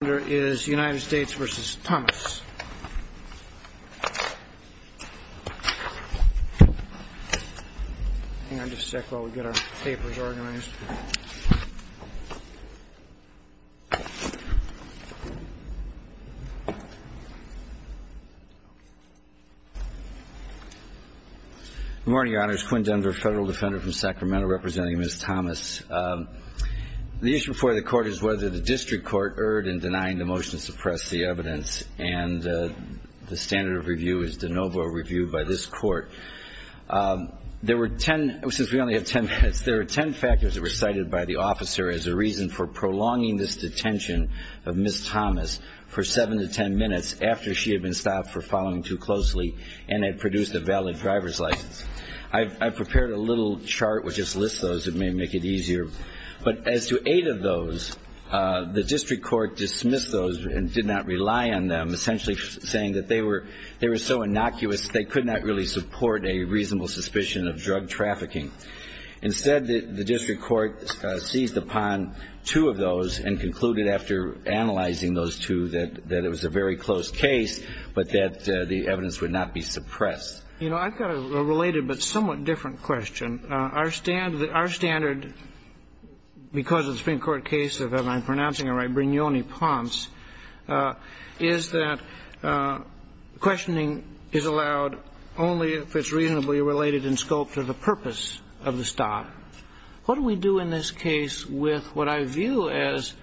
Good morning, your honors. Quinn Dunder, federal defender from Sacramento, representing Ms. Thomas. The issue before the court is whether the district court erred in denouncing Mr. Thomas. The motion to suppress the evidence and the standard of review is de novo reviewed by this court. There were 10, since we only have 10 minutes, there are 10 factors that were cited by the officer as a reason for prolonging this detention of Ms. Thomas for 7 to 10 minutes after she had been stopped for following too closely and had produced a valid driver's license. I've prepared a little chart which just lists those, it may make it easier. But as to 8 of those, the district court dismissed those and did not rely on them, essentially saying that they were so innocuous they could not really support a reasonable suspicion of drug trafficking. Instead, the district court seized upon 2 of those and concluded after analyzing those 2 that it was a very close case, but that the evidence would not be suppressed. You know, I've got a related but somewhat different question. Our standard, because of the Supreme Court case of, and I'm pronouncing it right, Brignone-Ponce, is that questioning is allowed only if it's reasonably related in scope to the purpose of the stop. But what do we do in this case with what I view as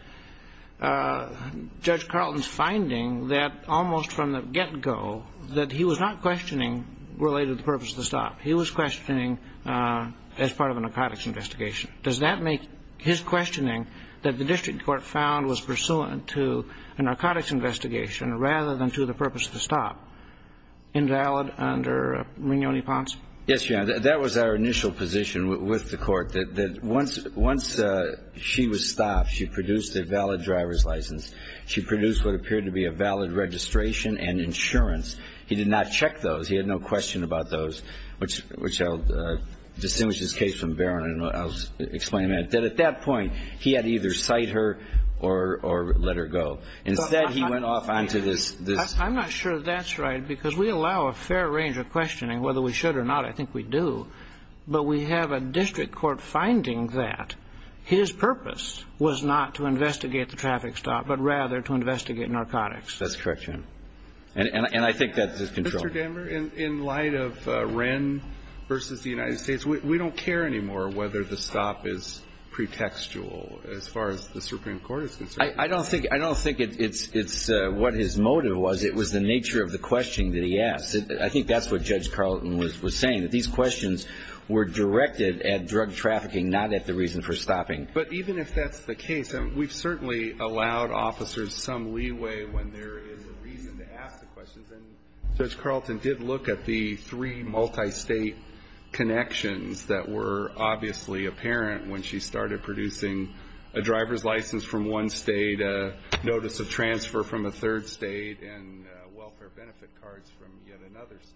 Judge Carlton's finding that almost from the get-go that he was not questioning related to the purpose of the stop. He was questioning as part of a narcotics investigation. Does that make his questioning that the district court found was pursuant to a narcotics investigation rather than to the purpose of the stop invalid under Brignone-Ponce? Yes, Your Honor, that was our initial position with the court, that once she was stopped, she produced a valid driver's license. She produced what appeared to be a valid registration and insurance. He did not check those. He had no question about those, which I'll distinguish this case from Barron and I'll explain that. That at that point, he had to either cite her or let her go. Instead, he went off onto this. I'm not sure that's right, because we allow a fair range of questioning, whether we should or not. I think we do. But we have a district court finding that his purpose was not to investigate the traffic stop, but rather to investigate narcotics. That's correct, Your Honor. And I think that's his control. Mr. Denver, in light of Wren v. the United States, we don't care anymore whether the stop is pretextual as far as the Supreme Court is concerned. I don't think it's what his motive was. It was the nature of the questioning that he asked. I think that's what Judge Carlton was saying, that these questions were directed at drug trafficking, not at the reason for stopping. But even if that's the case, we've certainly allowed officers some leeway when there is a reason to ask the questions. And Judge Carlton did look at the three multistate connections that were obviously apparent when she started producing a driver's license from one state, a notice of transfer from a third state, and welfare benefit cards from yet another state.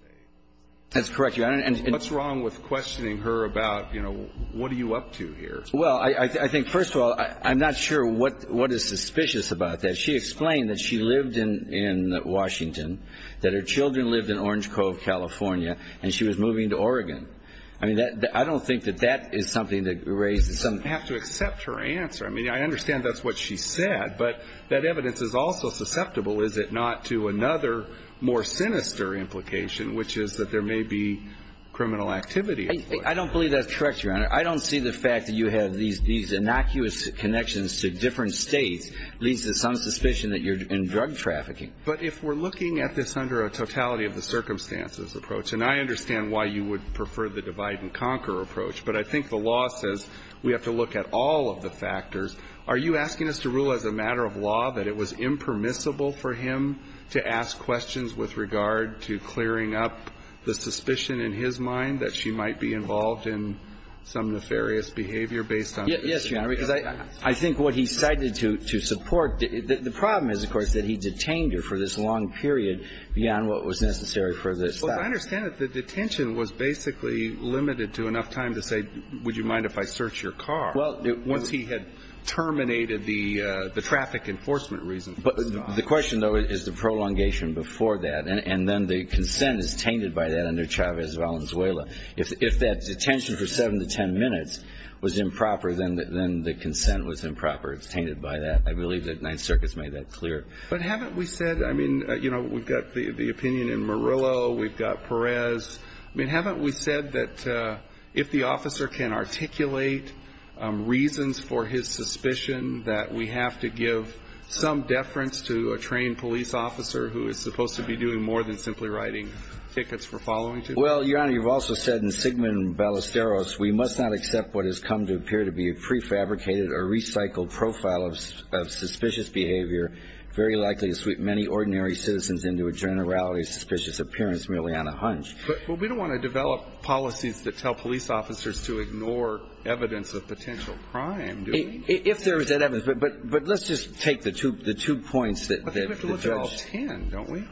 That's correct, Your Honor. And what's wrong with questioning her about, you know, what are you up to here? Well, I think, first of all, I'm not sure what is suspicious about that. She explained that she lived in Washington, that her children lived in Orange Cove, California, and she was moving to Oregon. I mean, I don't think that that is something that raises some – I have to accept her answer. I mean, I understand that's what she said, but that evidence is also susceptible, is it not, to another more sinister implication, which is that there may be criminal activity. I don't believe that's correct, Your Honor. I don't see the fact that you have these innocuous connections to different states leads to some suspicion that you're in drug trafficking. But if we're looking at this under a totality of the circumstances approach, and I understand why you would prefer the divide-and-conquer approach, but I think the law says we have to look at all of the factors, are you asking us to rule as a matter of law that it was impermissible for him to ask questions with regard to clearing up the suspicion in his mind that she might be involved in some nefarious behavior based on – Yes, Your Honor, because I think what he cited to support – the problem is, of course, that he detained her for this long period beyond what was necessary for the stop. Well, as I understand it, the detention was basically limited to enough time to say, would you mind if I search your car, once he had terminated the traffic enforcement reason for the stop. The question, though, is the prolongation before that, and then the consent is tainted by that under Chavez Valenzuela. If that detention for 7 to 10 minutes was improper, then the consent was improper. It's tainted by that. I believe that Ninth Circuit has made that clear. But haven't we said – I mean, you know, we've got the opinion in Murillo, we've got Perez. I mean, haven't we said that if the officer can articulate reasons for his suspicion that we have to give some deference to a trained police officer who is supposed to be doing more than simply writing tickets for following him? Well, Your Honor, you've also said in Sigmund Ballesteros, we must not accept what has come to appear to be a prefabricated or recycled profile of suspicious behavior, very likely to sweep many ordinary citizens into a generality of suspicious appearance merely on a hunch. But we don't want to develop policies that tell police officers to ignore evidence of potential crime, do we? If there is evidence. But let's just take the two points that the judge – I think we have to look at all ten, don't we?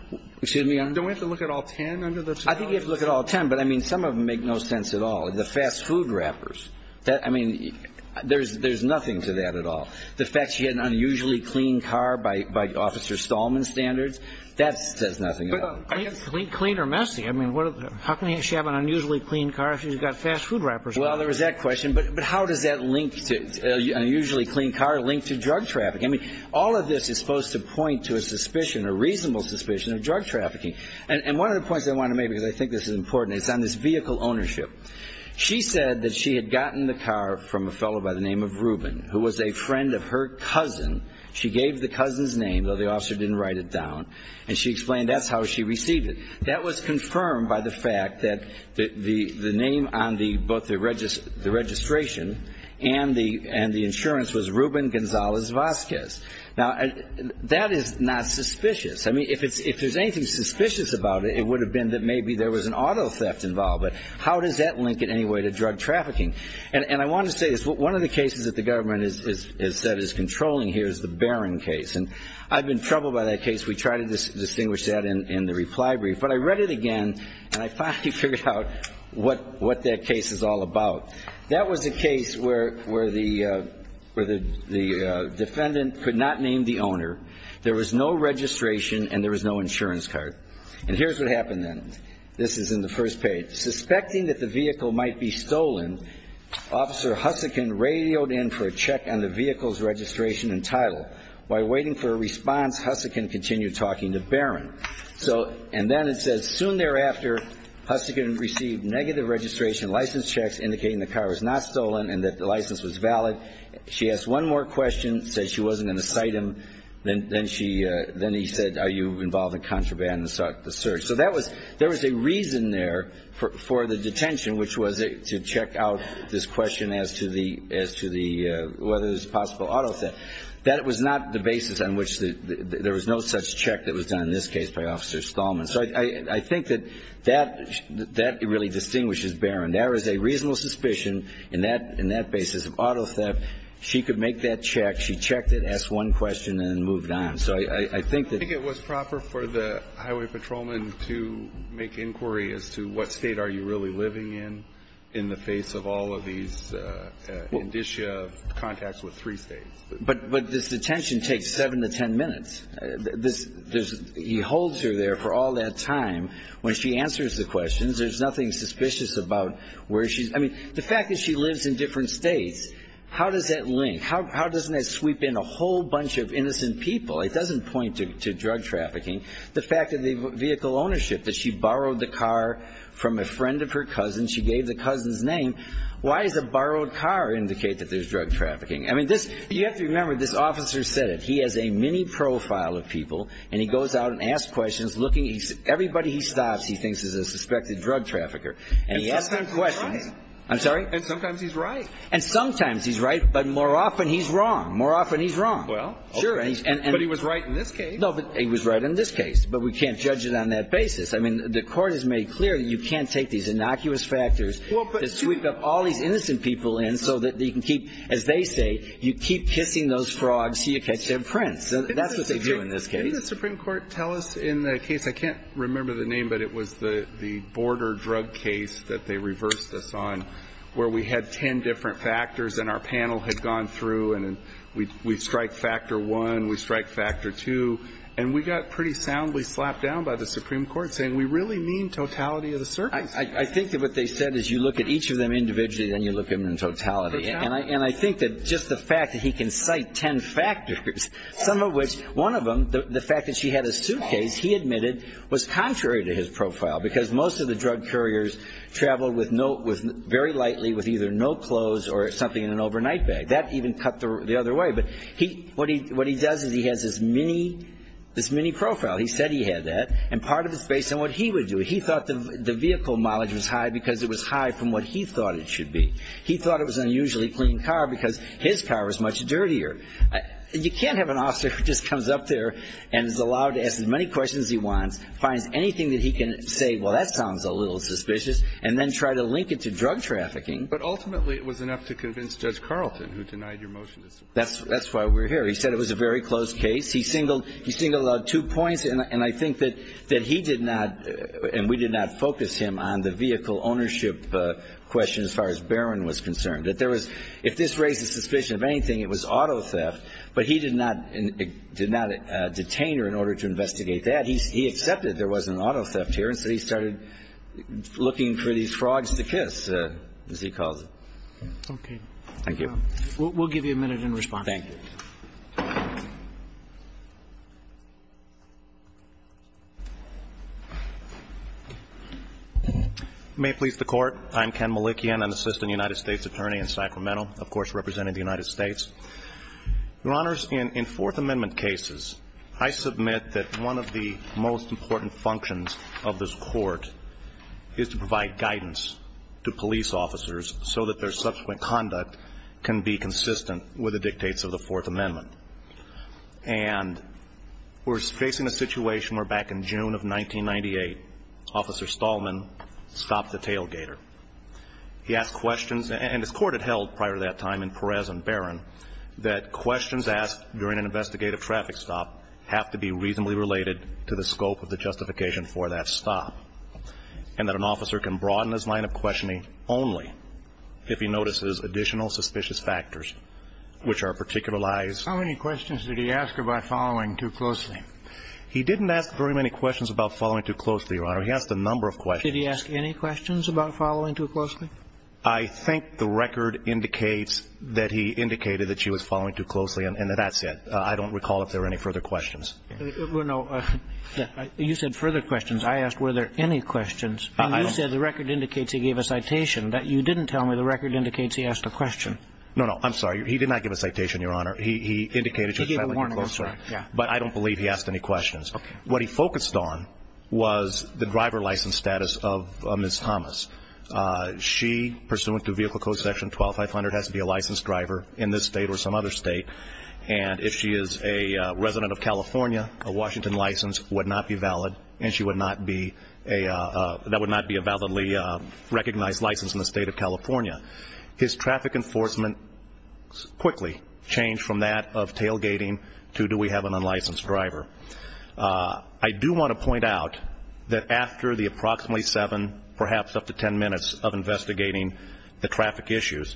Excuse me? Don't we have to look at all ten under the terminology? I think we have to look at all ten. But, I mean, some of them make no sense at all. The fast food wrappers. I mean, there's nothing to that at all. The fact she had an unusually clean car by Officer Stallman's standards, that says nothing about it. Clean or messy? I mean, how can she have an unusually clean car if she's got fast food wrappers on her? Well, there was that question. But how does that link to – an unusually clean car linked to drug trafficking? I mean, all of this is supposed to point to a suspicion, a reasonable suspicion, of drug trafficking. And one of the points I want to make, because I think this is important, is on this vehicle ownership. She said that she had gotten the car from a fellow by the name of Ruben, who was a friend of her cousin. She gave the cousin's name, though the officer didn't write it down, and she explained that's how she received it. That was confirmed by the fact that the name on both the registration and the insurance was Ruben Gonzalez-Vazquez. Now, that is not suspicious. I mean, if there's anything suspicious about it, it would have been that maybe there was an auto theft involved. But how does that link in any way to drug trafficking? And I want to say this. One of the cases that the government has said is controlling here is the Barron case. And I've been troubled by that case. We try to distinguish that in the reply brief. But I read it again, and I finally figured out what that case is all about. That was a case where the defendant could not name the owner, there was no registration, and there was no insurance card. And here's what happened then. This is in the first page. Suspecting that the vehicle might be stolen, Officer Hussican radioed in for a check on the vehicle's registration and title. While waiting for a response, Hussican continued talking to Barron. And then it says, Soon thereafter, Hussican received negative registration license checks indicating the car was not stolen and that the license was valid. She asked one more question, said she wasn't going to cite him. Then he said, Are you involved in contraband? And sought the search. So there was a reason there for the detention, which was to check out this question as to whether it was possible auto theft. That was not the basis on which there was no such check that was done in this case by Officer Stallman. So I think that that really distinguishes Barron. There is a reasonable suspicion in that basis of auto theft. She could make that check. She checked it, asked one question, and then moved on. I think it was proper for the highway patrolman to make inquiry as to what state are you really living in, in the face of all of these indicia of contacts with three states. But this detention takes seven to ten minutes. He holds her there for all that time. When she answers the questions, there's nothing suspicious about where she's... I mean, the fact that she lives in different states, how does that link? How doesn't that sweep in a whole bunch of innocent people? It doesn't point to drug trafficking. The fact of the vehicle ownership, that she borrowed the car from a friend of her cousin. She gave the cousin's name. Why does a borrowed car indicate that there's drug trafficking? I mean, you have to remember, this officer said it. He has a mini profile of people, and he goes out and asks questions, looking... Everybody he stops he thinks is a suspected drug trafficker. And he asks them questions. And sometimes he's right. I'm sorry? And sometimes he's right. And sometimes he's right, but more often he's wrong. More often he's wrong. Well, sure. But he was right in this case. No, but he was right in this case. But we can't judge it on that basis. I mean, the Court has made clear that you can't take these innocuous factors that sweep up all these innocent people in so that you can keep, as they say, you keep kissing those frogs until you catch their prince. So that's what they do in this case. Didn't the Supreme Court tell us in the case, I can't remember the name, but it was the border drug case that they reversed us on where we had ten different factors and our panel had gone through and we strike factor one, we strike factor two, and we got pretty soundly slapped down by the Supreme Court saying, we really mean totality of the surface. I think that what they said is you look at each of them individually, then you look at them in totality. And I think that just the fact that he can cite ten factors, some of which, one of them, the fact that she had a suitcase, he admitted was contrary to his profile because most of the drug couriers traveled very lightly with either no clothes or something in an overnight bag. That even cut the other way. But what he does is he has this mini profile. He said he had that. And part of it's based on what he would do. He thought the vehicle mileage was high because it was high from what he thought it should be. He thought it was an unusually clean car because his car was much dirtier. You can't have an officer who just comes up there and is allowed to ask as many questions as he wants, finds anything that he can say, well, that sounds a little suspicious, and then try to link it to drug trafficking. But ultimately it was enough to convince Judge Carlton who denied your motion. That's why we're here. He said it was a very close case. He singled out two points, and I think that he did not, and we did not focus him on the vehicle ownership question as far as Barron was concerned. That there was, if this raises suspicion of anything, it was auto theft. But he did not detain her in order to investigate that. He accepted there was an auto theft here. And so he started looking for these frogs to kiss, as he calls it. Okay. Thank you. We'll give you a minute in response. Thank you. May it please the Court. I'm Ken Malikian. I'm Assistant United States Attorney in Sacramento, of course representing the United States. Your Honors, in Fourth Amendment cases, I submit that one of the most important functions of this Court is to provide guidance to police officers so that their subsequent conduct can be consistent with the dictates of the Fourth Amendment. And we're facing a situation where back in June of 1998, Officer Stallman stopped the tailgater. He asked questions, and this Court had held prior to that time in Perez and Barron, that questions asked during an investigative traffic stop have to be reasonably related to the scope of the justification for that stop. And that an officer can broaden his line of questioning only if he notices additional suspicious factors, which are particular lies. How many questions did he ask about following too closely? He didn't ask very many questions about following too closely, Your Honor. He asked a number of questions. Did he ask any questions about following too closely? I think the record indicates that he indicated that she was following too closely, and that's it. I don't recall if there were any further questions. Well, no. You said further questions. I asked were there any questions. And you said the record indicates he gave a citation. You didn't tell me the record indicates he asked a question. No, no. I'm sorry. He did not give a citation, Your Honor. He indicated she was following too closely. He gave a warning. But I don't believe he asked any questions. Okay. What he focused on was the driver license status of Ms. Thomas. She, pursuant to Vehicle Code Section 12500, has to be a licensed driver in this state or some other state. And if she is a resident of California, a Washington license would not be valid, and that would not be a validly recognized license in the state of California. His traffic enforcement quickly changed from that of tailgating to do we have an unlicensed driver. I do want to point out that after the approximately seven, perhaps up to ten minutes, of investigating the traffic issues,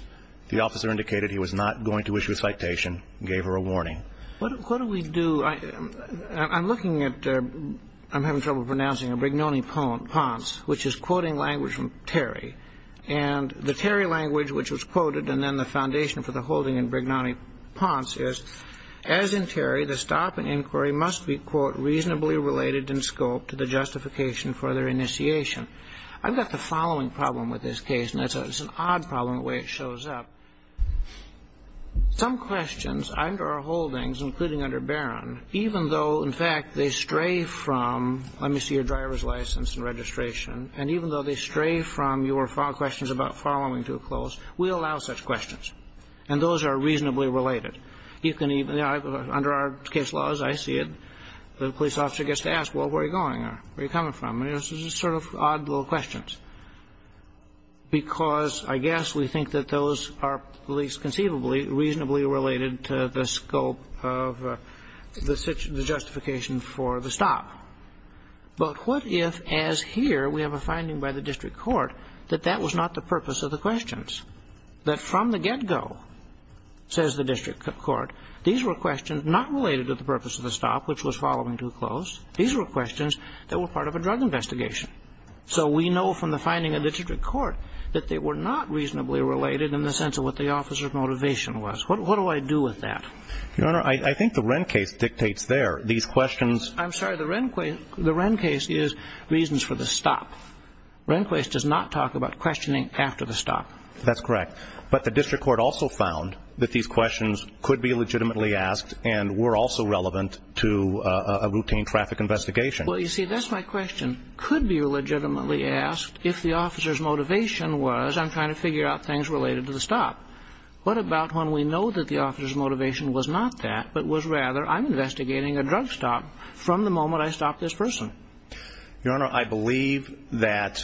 the officer indicated he was not going to issue a citation and gave her a warning. What do we do? I'm looking at the ‑‑ I'm having trouble pronouncing it, Brignone Ponce, which is quoting language from Terry. And the Terry language which was quoted and then the foundation for the holding in Brignone Ponce is, as in Terry, the stop and inquiry must be, quote, reasonably related in scope to the justification for their initiation. I've got the following problem with this case, and it's an odd problem the way it shows up. Some questions under our holdings, including under Barron, even though, in fact, they stray from, let me see your driver's license and registration. And even though they stray from your questions about following to a close, we allow such questions. And those are reasonably related. You can even ‑‑ under our case laws, I see it, the police officer gets to ask, well, where are you going? Where are you coming from? And it's just sort of odd little questions. Because I guess we think that those are at least conceivably reasonably related to the scope of the justification for the stop. But what if, as here, we have a finding by the district court that that was not the purpose of the questions? That from the get‑go, says the district court, these were questions not related to the purpose of the stop, which was following to a close. These were questions that were part of a drug investigation. So we know from the finding of the district court that they were not reasonably related in the sense of what the officer's motivation was. What do I do with that? Your Honor, I think the Wren case dictates there. These questions ‑‑ I'm sorry, the Wren case is reasons for the stop. Wren case does not talk about questioning after the stop. That's correct. But the district court also found that these questions could be legitimately asked and were also relevant to a routine traffic investigation. Well, you see, that's my question. Could be legitimately asked if the officer's motivation was, I'm trying to figure out things related to the stop. What about when we know that the officer's motivation was not that, but was rather, I'm investigating a drug stop from the moment I stopped this person? Your Honor, I believe that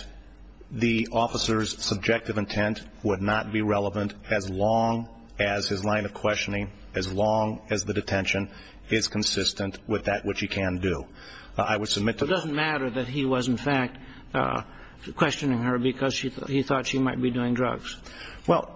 the officer's subjective intent would not be relevant as long as his line of questioning, as long as the detention is consistent with that which he can do. I would submit to the ‑‑ It doesn't matter that he was, in fact, questioning her because he thought she might be doing drugs. Well,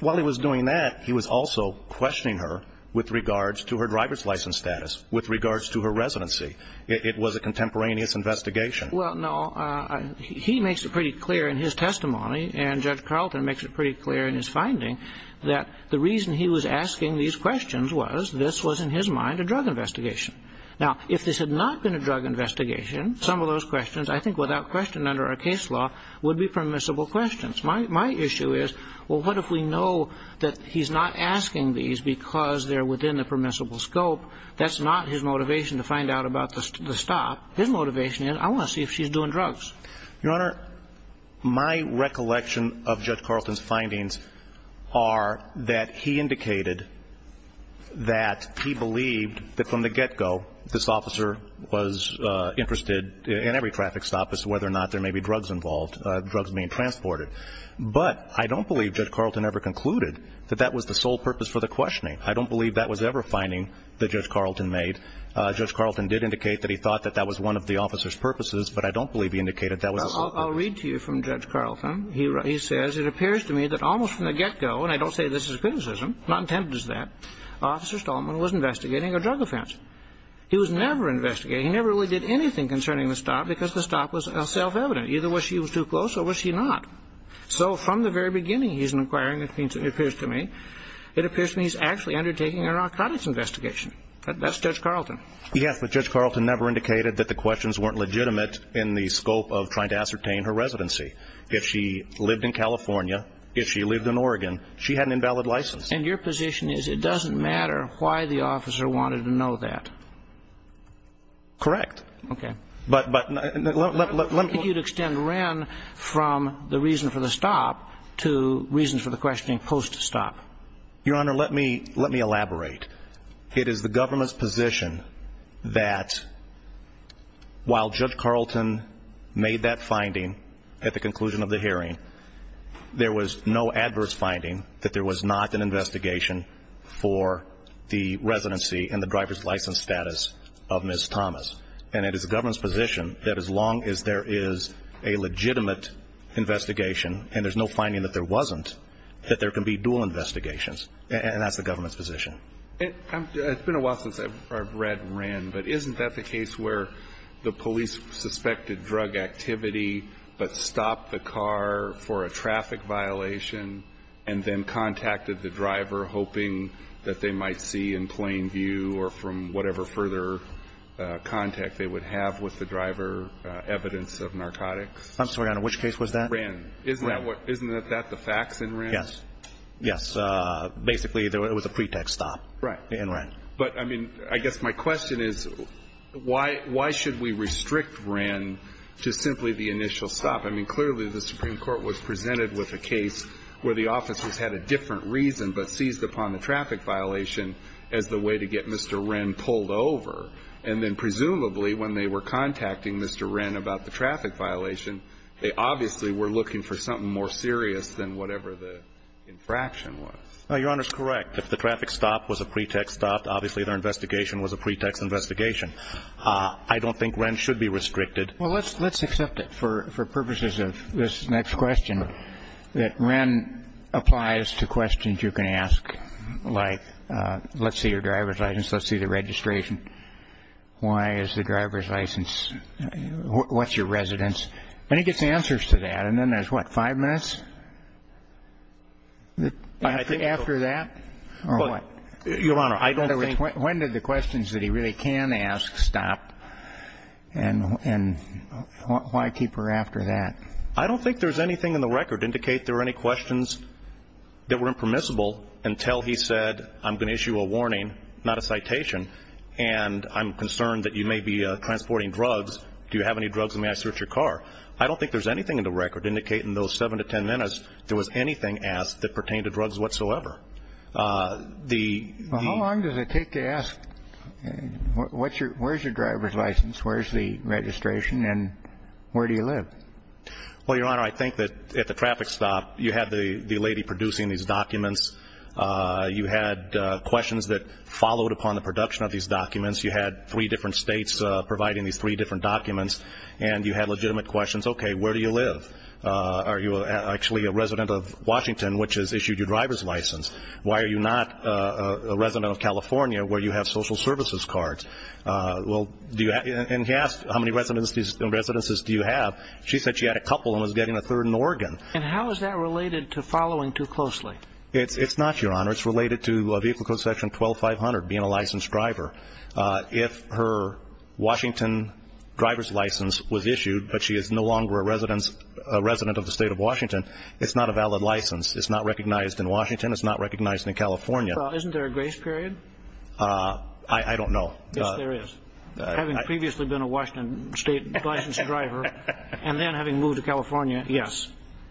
while he was doing that, he was also questioning her with regards to her driver's license status, with regards to her residency. It was a contemporaneous investigation. Well, no. He makes it pretty clear in his testimony, and Judge Carlton makes it pretty clear in his finding, that the reason he was asking these questions was this was, in his mind, a drug investigation. Now, if this had not been a drug investigation, some of those questions, I think without question under our case law, would be permissible questions. My issue is, well, what if we know that he's not asking these because they're within the permissible scope? That's not his motivation to find out about the stop. His motivation is, I want to see if she's doing drugs. Your Honor, my recollection of Judge Carlton's findings are that he indicated that he believed that from the get‑go, this officer was interested in every traffic stop as to whether or not there may be drugs involved, drugs being transported. But I don't believe Judge Carlton ever concluded that that was the sole purpose for the questioning. I don't believe that was ever a finding that Judge Carlton made. Judge Carlton did indicate that he thought that that was one of the officer's purposes, but I don't believe he indicated that was the sole purpose. Well, I'll read to you from Judge Carlton. He says, It appears to me that almost from the get‑go, and I don't say this as a criticism, not intended as that, Officer Stallman was investigating a drug offense. He was never investigating. He never really did anything concerning the stop because the stop was self‑evident. Either she was too close or was she not? So from the very beginning he's inquiring, it appears to me, it appears to me he's actually undertaking a narcotics investigation. That's Judge Carlton. Yes, but Judge Carlton never indicated that the questions weren't legitimate in the scope of trying to ascertain her residency. If she lived in California, if she lived in Oregon, she had an invalid license. And your position is it doesn't matter why the officer wanted to know that? Correct. Okay. But let me ‑‑ I think you'd extend Ren from the reason for the stop to reasons for the questioning post‑stop. Your Honor, let me elaborate. It is the government's position that while Judge Carlton made that finding at the conclusion of the hearing, there was no adverse finding that there was not an investigation for the residency and the driver's license status of Ms. Thomas. And it is the government's position that as long as there is a legitimate investigation and there's no finding that there wasn't, that there can be dual investigations. And that's the government's position. It's been a while since I've read Ren, but isn't that the case where the police suspected drug activity but stopped the car for a traffic violation and then contacted the driver hoping that they might see in plain view or from whatever further contact they would have with the driver evidence of narcotics? I'm sorry, Your Honor, which case was that? Ren. Isn't that the facts in Ren? Yes. Yes. Basically, it was a pretext stop. Right. In Ren. But, I mean, I guess my question is why should we restrict Ren to simply the initial stop? I mean, clearly the Supreme Court was presented with a case where the officers had a different reason but seized upon the traffic violation as the way to get Mr. Ren pulled over. And then presumably when they were contacting Mr. Ren about the traffic violation, they obviously were looking for something more serious than whatever the infraction was. Your Honor is correct. If the traffic stop was a pretext stop, obviously their investigation was a pretext investigation. I don't think Ren should be restricted. Well, let's accept it for purposes of this next question, that Ren applies to questions you can ask, like let's see your driver's license, let's see the registration. Why is the driver's license? What's your residence? And he gets answers to that. And then there's, what, five minutes after that or what? Your Honor, I don't think. When do the questions that he really can ask stop? And why keep her after that? I don't think there's anything in the record to indicate there are any questions that were impermissible until he said I'm going to issue a warning, not a citation. And I'm concerned that you may be transporting drugs. Do you have any drugs and may I search your car? I don't think there's anything in the record to indicate in those seven to ten minutes there was anything asked that pertained to drugs whatsoever. How long does it take to ask where's your driver's license, where's the registration, and where do you live? Well, Your Honor, I think that at the traffic stop you had the lady producing these documents. You had questions that followed upon the production of these documents. You had three different states providing these three different documents. And you had legitimate questions. Okay, where do you live? Are you actually a resident of Washington, which has issued your driver's license? Why are you not a resident of California where you have social services cards? And he asked how many residences do you have. She said she had a couple and was getting a third in Oregon. And how is that related to following too closely? It's not, Your Honor. It's related to a vehicle code section 12500, being a licensed driver. If her Washington driver's license was issued but she is no longer a resident of the state of Washington, it's not a valid license. It's not recognized in Washington. It's not recognized in California. Isn't there a grace period? I don't know. Yes, there is. Having previously been a Washington state licensed driver and then having moved to California, yes.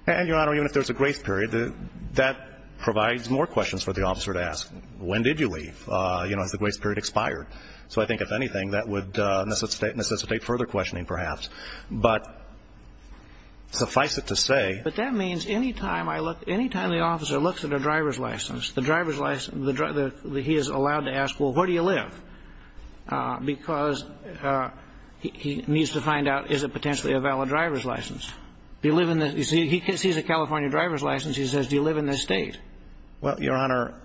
And, Your Honor, even if there's a grace period, that provides more questions for the officer to ask. When did you leave? Has the grace period expired? So I think, if anything, that would necessitate further questioning perhaps. But suffice it to say. But that means any time the officer looks at a driver's license, he is allowed to ask, well, where do you live? Because he needs to find out, is it potentially a valid driver's license? If he sees a California driver's license, he says, do you live in this state? Well, Your Honor.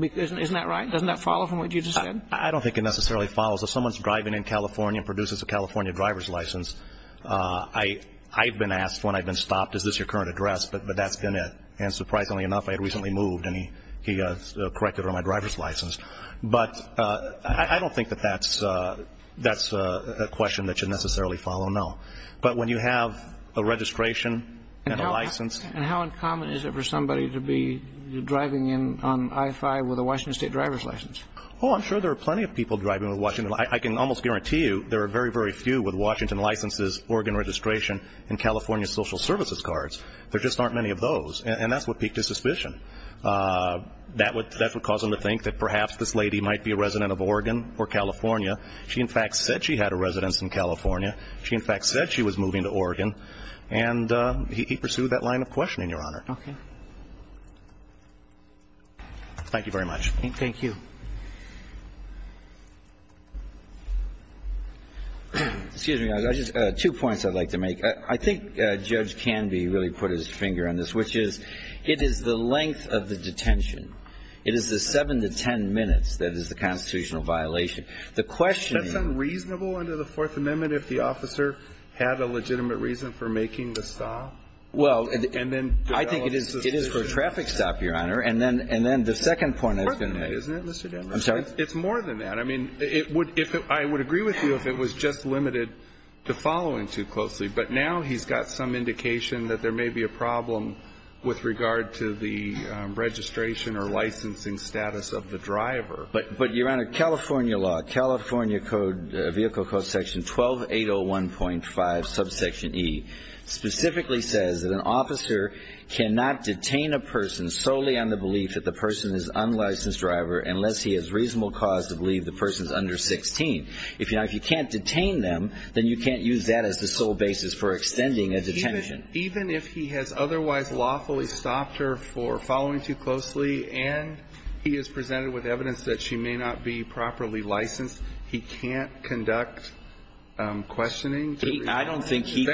Isn't that right? Doesn't that follow from what you just said? I don't think it necessarily follows. If someone's driving in California and produces a California driver's license, I've been asked when I've been stopped, is this your current address? But that's been it. And surprisingly enough, I had recently moved and he corrected her on my driver's license. But I don't think that that's a question that should necessarily follow, no. But when you have a registration and a license. And how uncommon is it for somebody to be driving in on I-5 with a Washington State driver's license? Oh, I'm sure there are plenty of people driving with Washington. I can almost guarantee you there are very, very few with Washington licenses, Oregon registration, and California social services cards. There just aren't many of those. And that's what peaked his suspicion. That would cause him to think that perhaps this lady might be a resident of Oregon or California. She, in fact, said she had a residence in California. She, in fact, said she was moving to Oregon. And he pursued that line of questioning, Your Honor. Okay. Thank you very much. Thank you. Excuse me. Two points I'd like to make. I think Judge Canby really put his finger on this, which is it is the length of the detention. It is the seven to ten minutes that is the constitutional violation. The question is. That's unreasonable under the Fourth Amendment if the officer had a legitimate reason for making the stop? Well, I think it is for a traffic stop, Your Honor. And then the second point I was going to make. It's more than that. I mean, I would agree with you if it was just limited to following too closely. But now he's got some indication that there may be a problem with regard to the registration or licensing status of the driver. But, Your Honor, California law, California code, vehicle code section 12801.5, subsection E, specifically says that an officer cannot detain a person solely on the belief that the person is an unlicensed driver unless he has reasonable cause to believe the person is under 16. If you can't detain them, then you can't use that as the sole basis for extending a detention. Even if he has otherwise lawfully stopped her for following too closely and he has presented with evidence that she may not be properly licensed, he can't conduct questioning? I don't think he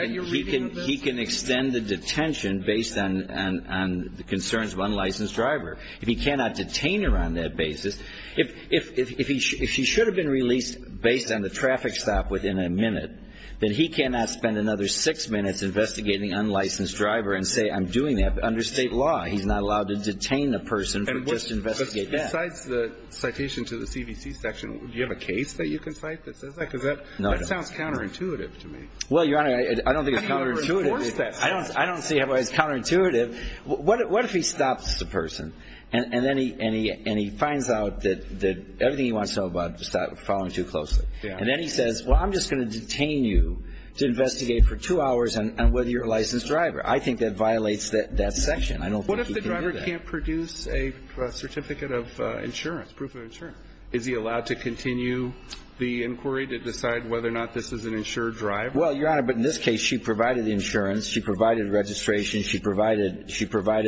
can extend the detention based on the concerns of an unlicensed driver. If he cannot detain her on that basis, if he should have been released based on the traffic stop within a minute, then he cannot spend another six minutes investigating an unlicensed driver and say I'm doing that. But under State law, he's not allowed to detain a person for just investigating that. Besides the citation to the CVC section, do you have a case that you can cite that says that? Because that sounds counterintuitive to me. Well, Your Honor, I don't think it's counterintuitive. I don't see how it's counterintuitive. What if he stops the person and then he finds out that everything he wants to know about is following too closely? And then he says, well, I'm just going to detain you to investigate for two hours on whether you're a licensed driver. I think that violates that section. I don't think he can do that. What if the driver can't produce a certificate of insurance, proof of insurance? Is he allowed to continue the inquiry to decide whether or not this is an insured driver? Well, Your Honor, but in this case, she provided the insurance. She provided registration. She provided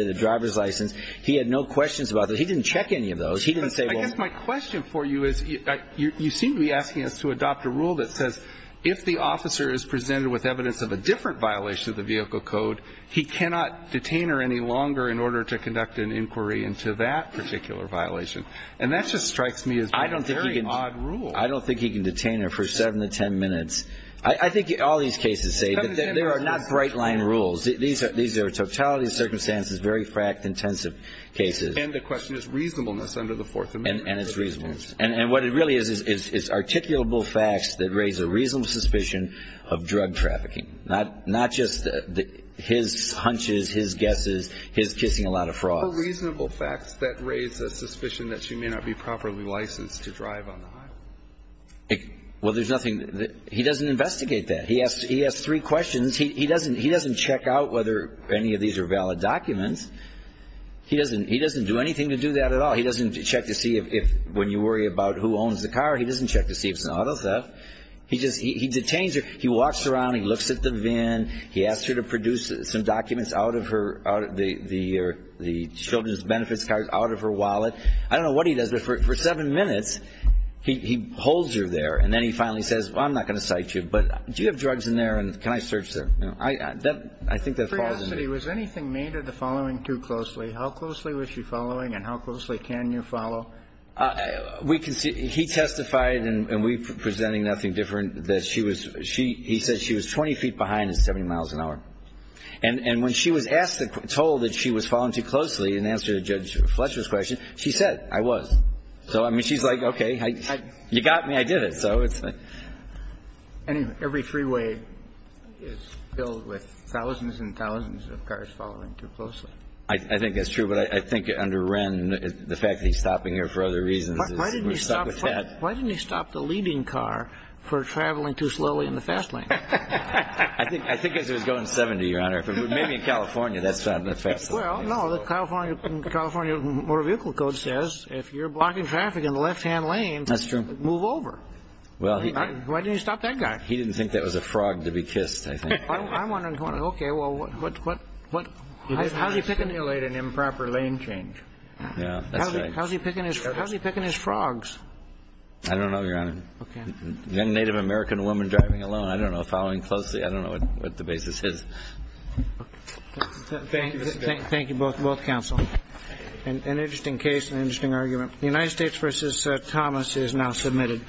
a driver's license. He had no questions about that. He didn't check any of those. He didn't say, well ---- But I guess my question for you is you seem to be asking us to adopt a rule that says if the officer is presented with evidence of a different violation of the vehicle code, he cannot detain her any longer in order to conduct an inquiry into that particular violation. And that just strikes me as being a very odd rule. I don't think he can detain her for 7 to 10 minutes. I think all these cases say that there are not bright-line rules. These are totality of circumstances, very fact-intensive cases. And the question is reasonableness under the Fourth Amendment. And it's reasonableness. And what it really is is articulable facts that raise a reasonable suspicion of drug trafficking, not just his hunches, his guesses, his kissing a lot of frogs. What are reasonable facts that raise a suspicion that she may not be properly licensed to drive on the highway? Well, there's nothing ---- He doesn't investigate that. He has three questions. He doesn't check out whether any of these are valid documents. He doesn't do anything to do that at all. He doesn't check to see if when you worry about who owns the car, he doesn't check to see if it's an auto theft. He detains her. He walks around. He looks at the van. He asks her to produce some documents out of her ---- the children's benefits cards out of her wallet. I don't know what he does, but for 7 minutes he holds her there. And then he finally says, well, I'm not going to cite you, but do you have drugs in there and can I search there? You know, I think that falls into it. For your honesty, was anything made of the following too closely? How closely was she following and how closely can you follow? We can see he testified, and we're presenting nothing different, that she was ---- he said she was 20 feet behind at 70 miles an hour. And when she was asked and told that she was following too closely in answer to Judge Fletcher's question, she said, I was. So, I mean, she's like, okay, you got me. I did it. So it's like ---- Every freeway is filled with thousands and thousands of cars following too closely. I think that's true. But I think under Wren, the fact that he's stopping her for other reasons is ---- Why didn't he stop the leading car for traveling too slowly in the fast lane? I think it was going 70, Your Honor. Maybe in California that's not in the fast lane. Well, no. The California Motor Vehicle Code says if you're blocking traffic in the left-hand lane, move over. Well, he ---- Why didn't he stop that guy? He didn't think that was a frog to be kissed, I think. I'm wondering, okay, well, what ---- How's he picking ---- He delayed an improper lane change. Yeah, that's right. How's he picking his frogs? I don't know, Your Honor. Okay. A Native American woman driving alone, I don't know, following closely, I don't know what the basis is. Thank you, Mr. Baird. Thank you, both counsel. An interesting case, an interesting argument. The United States v. Thomas is now submitted.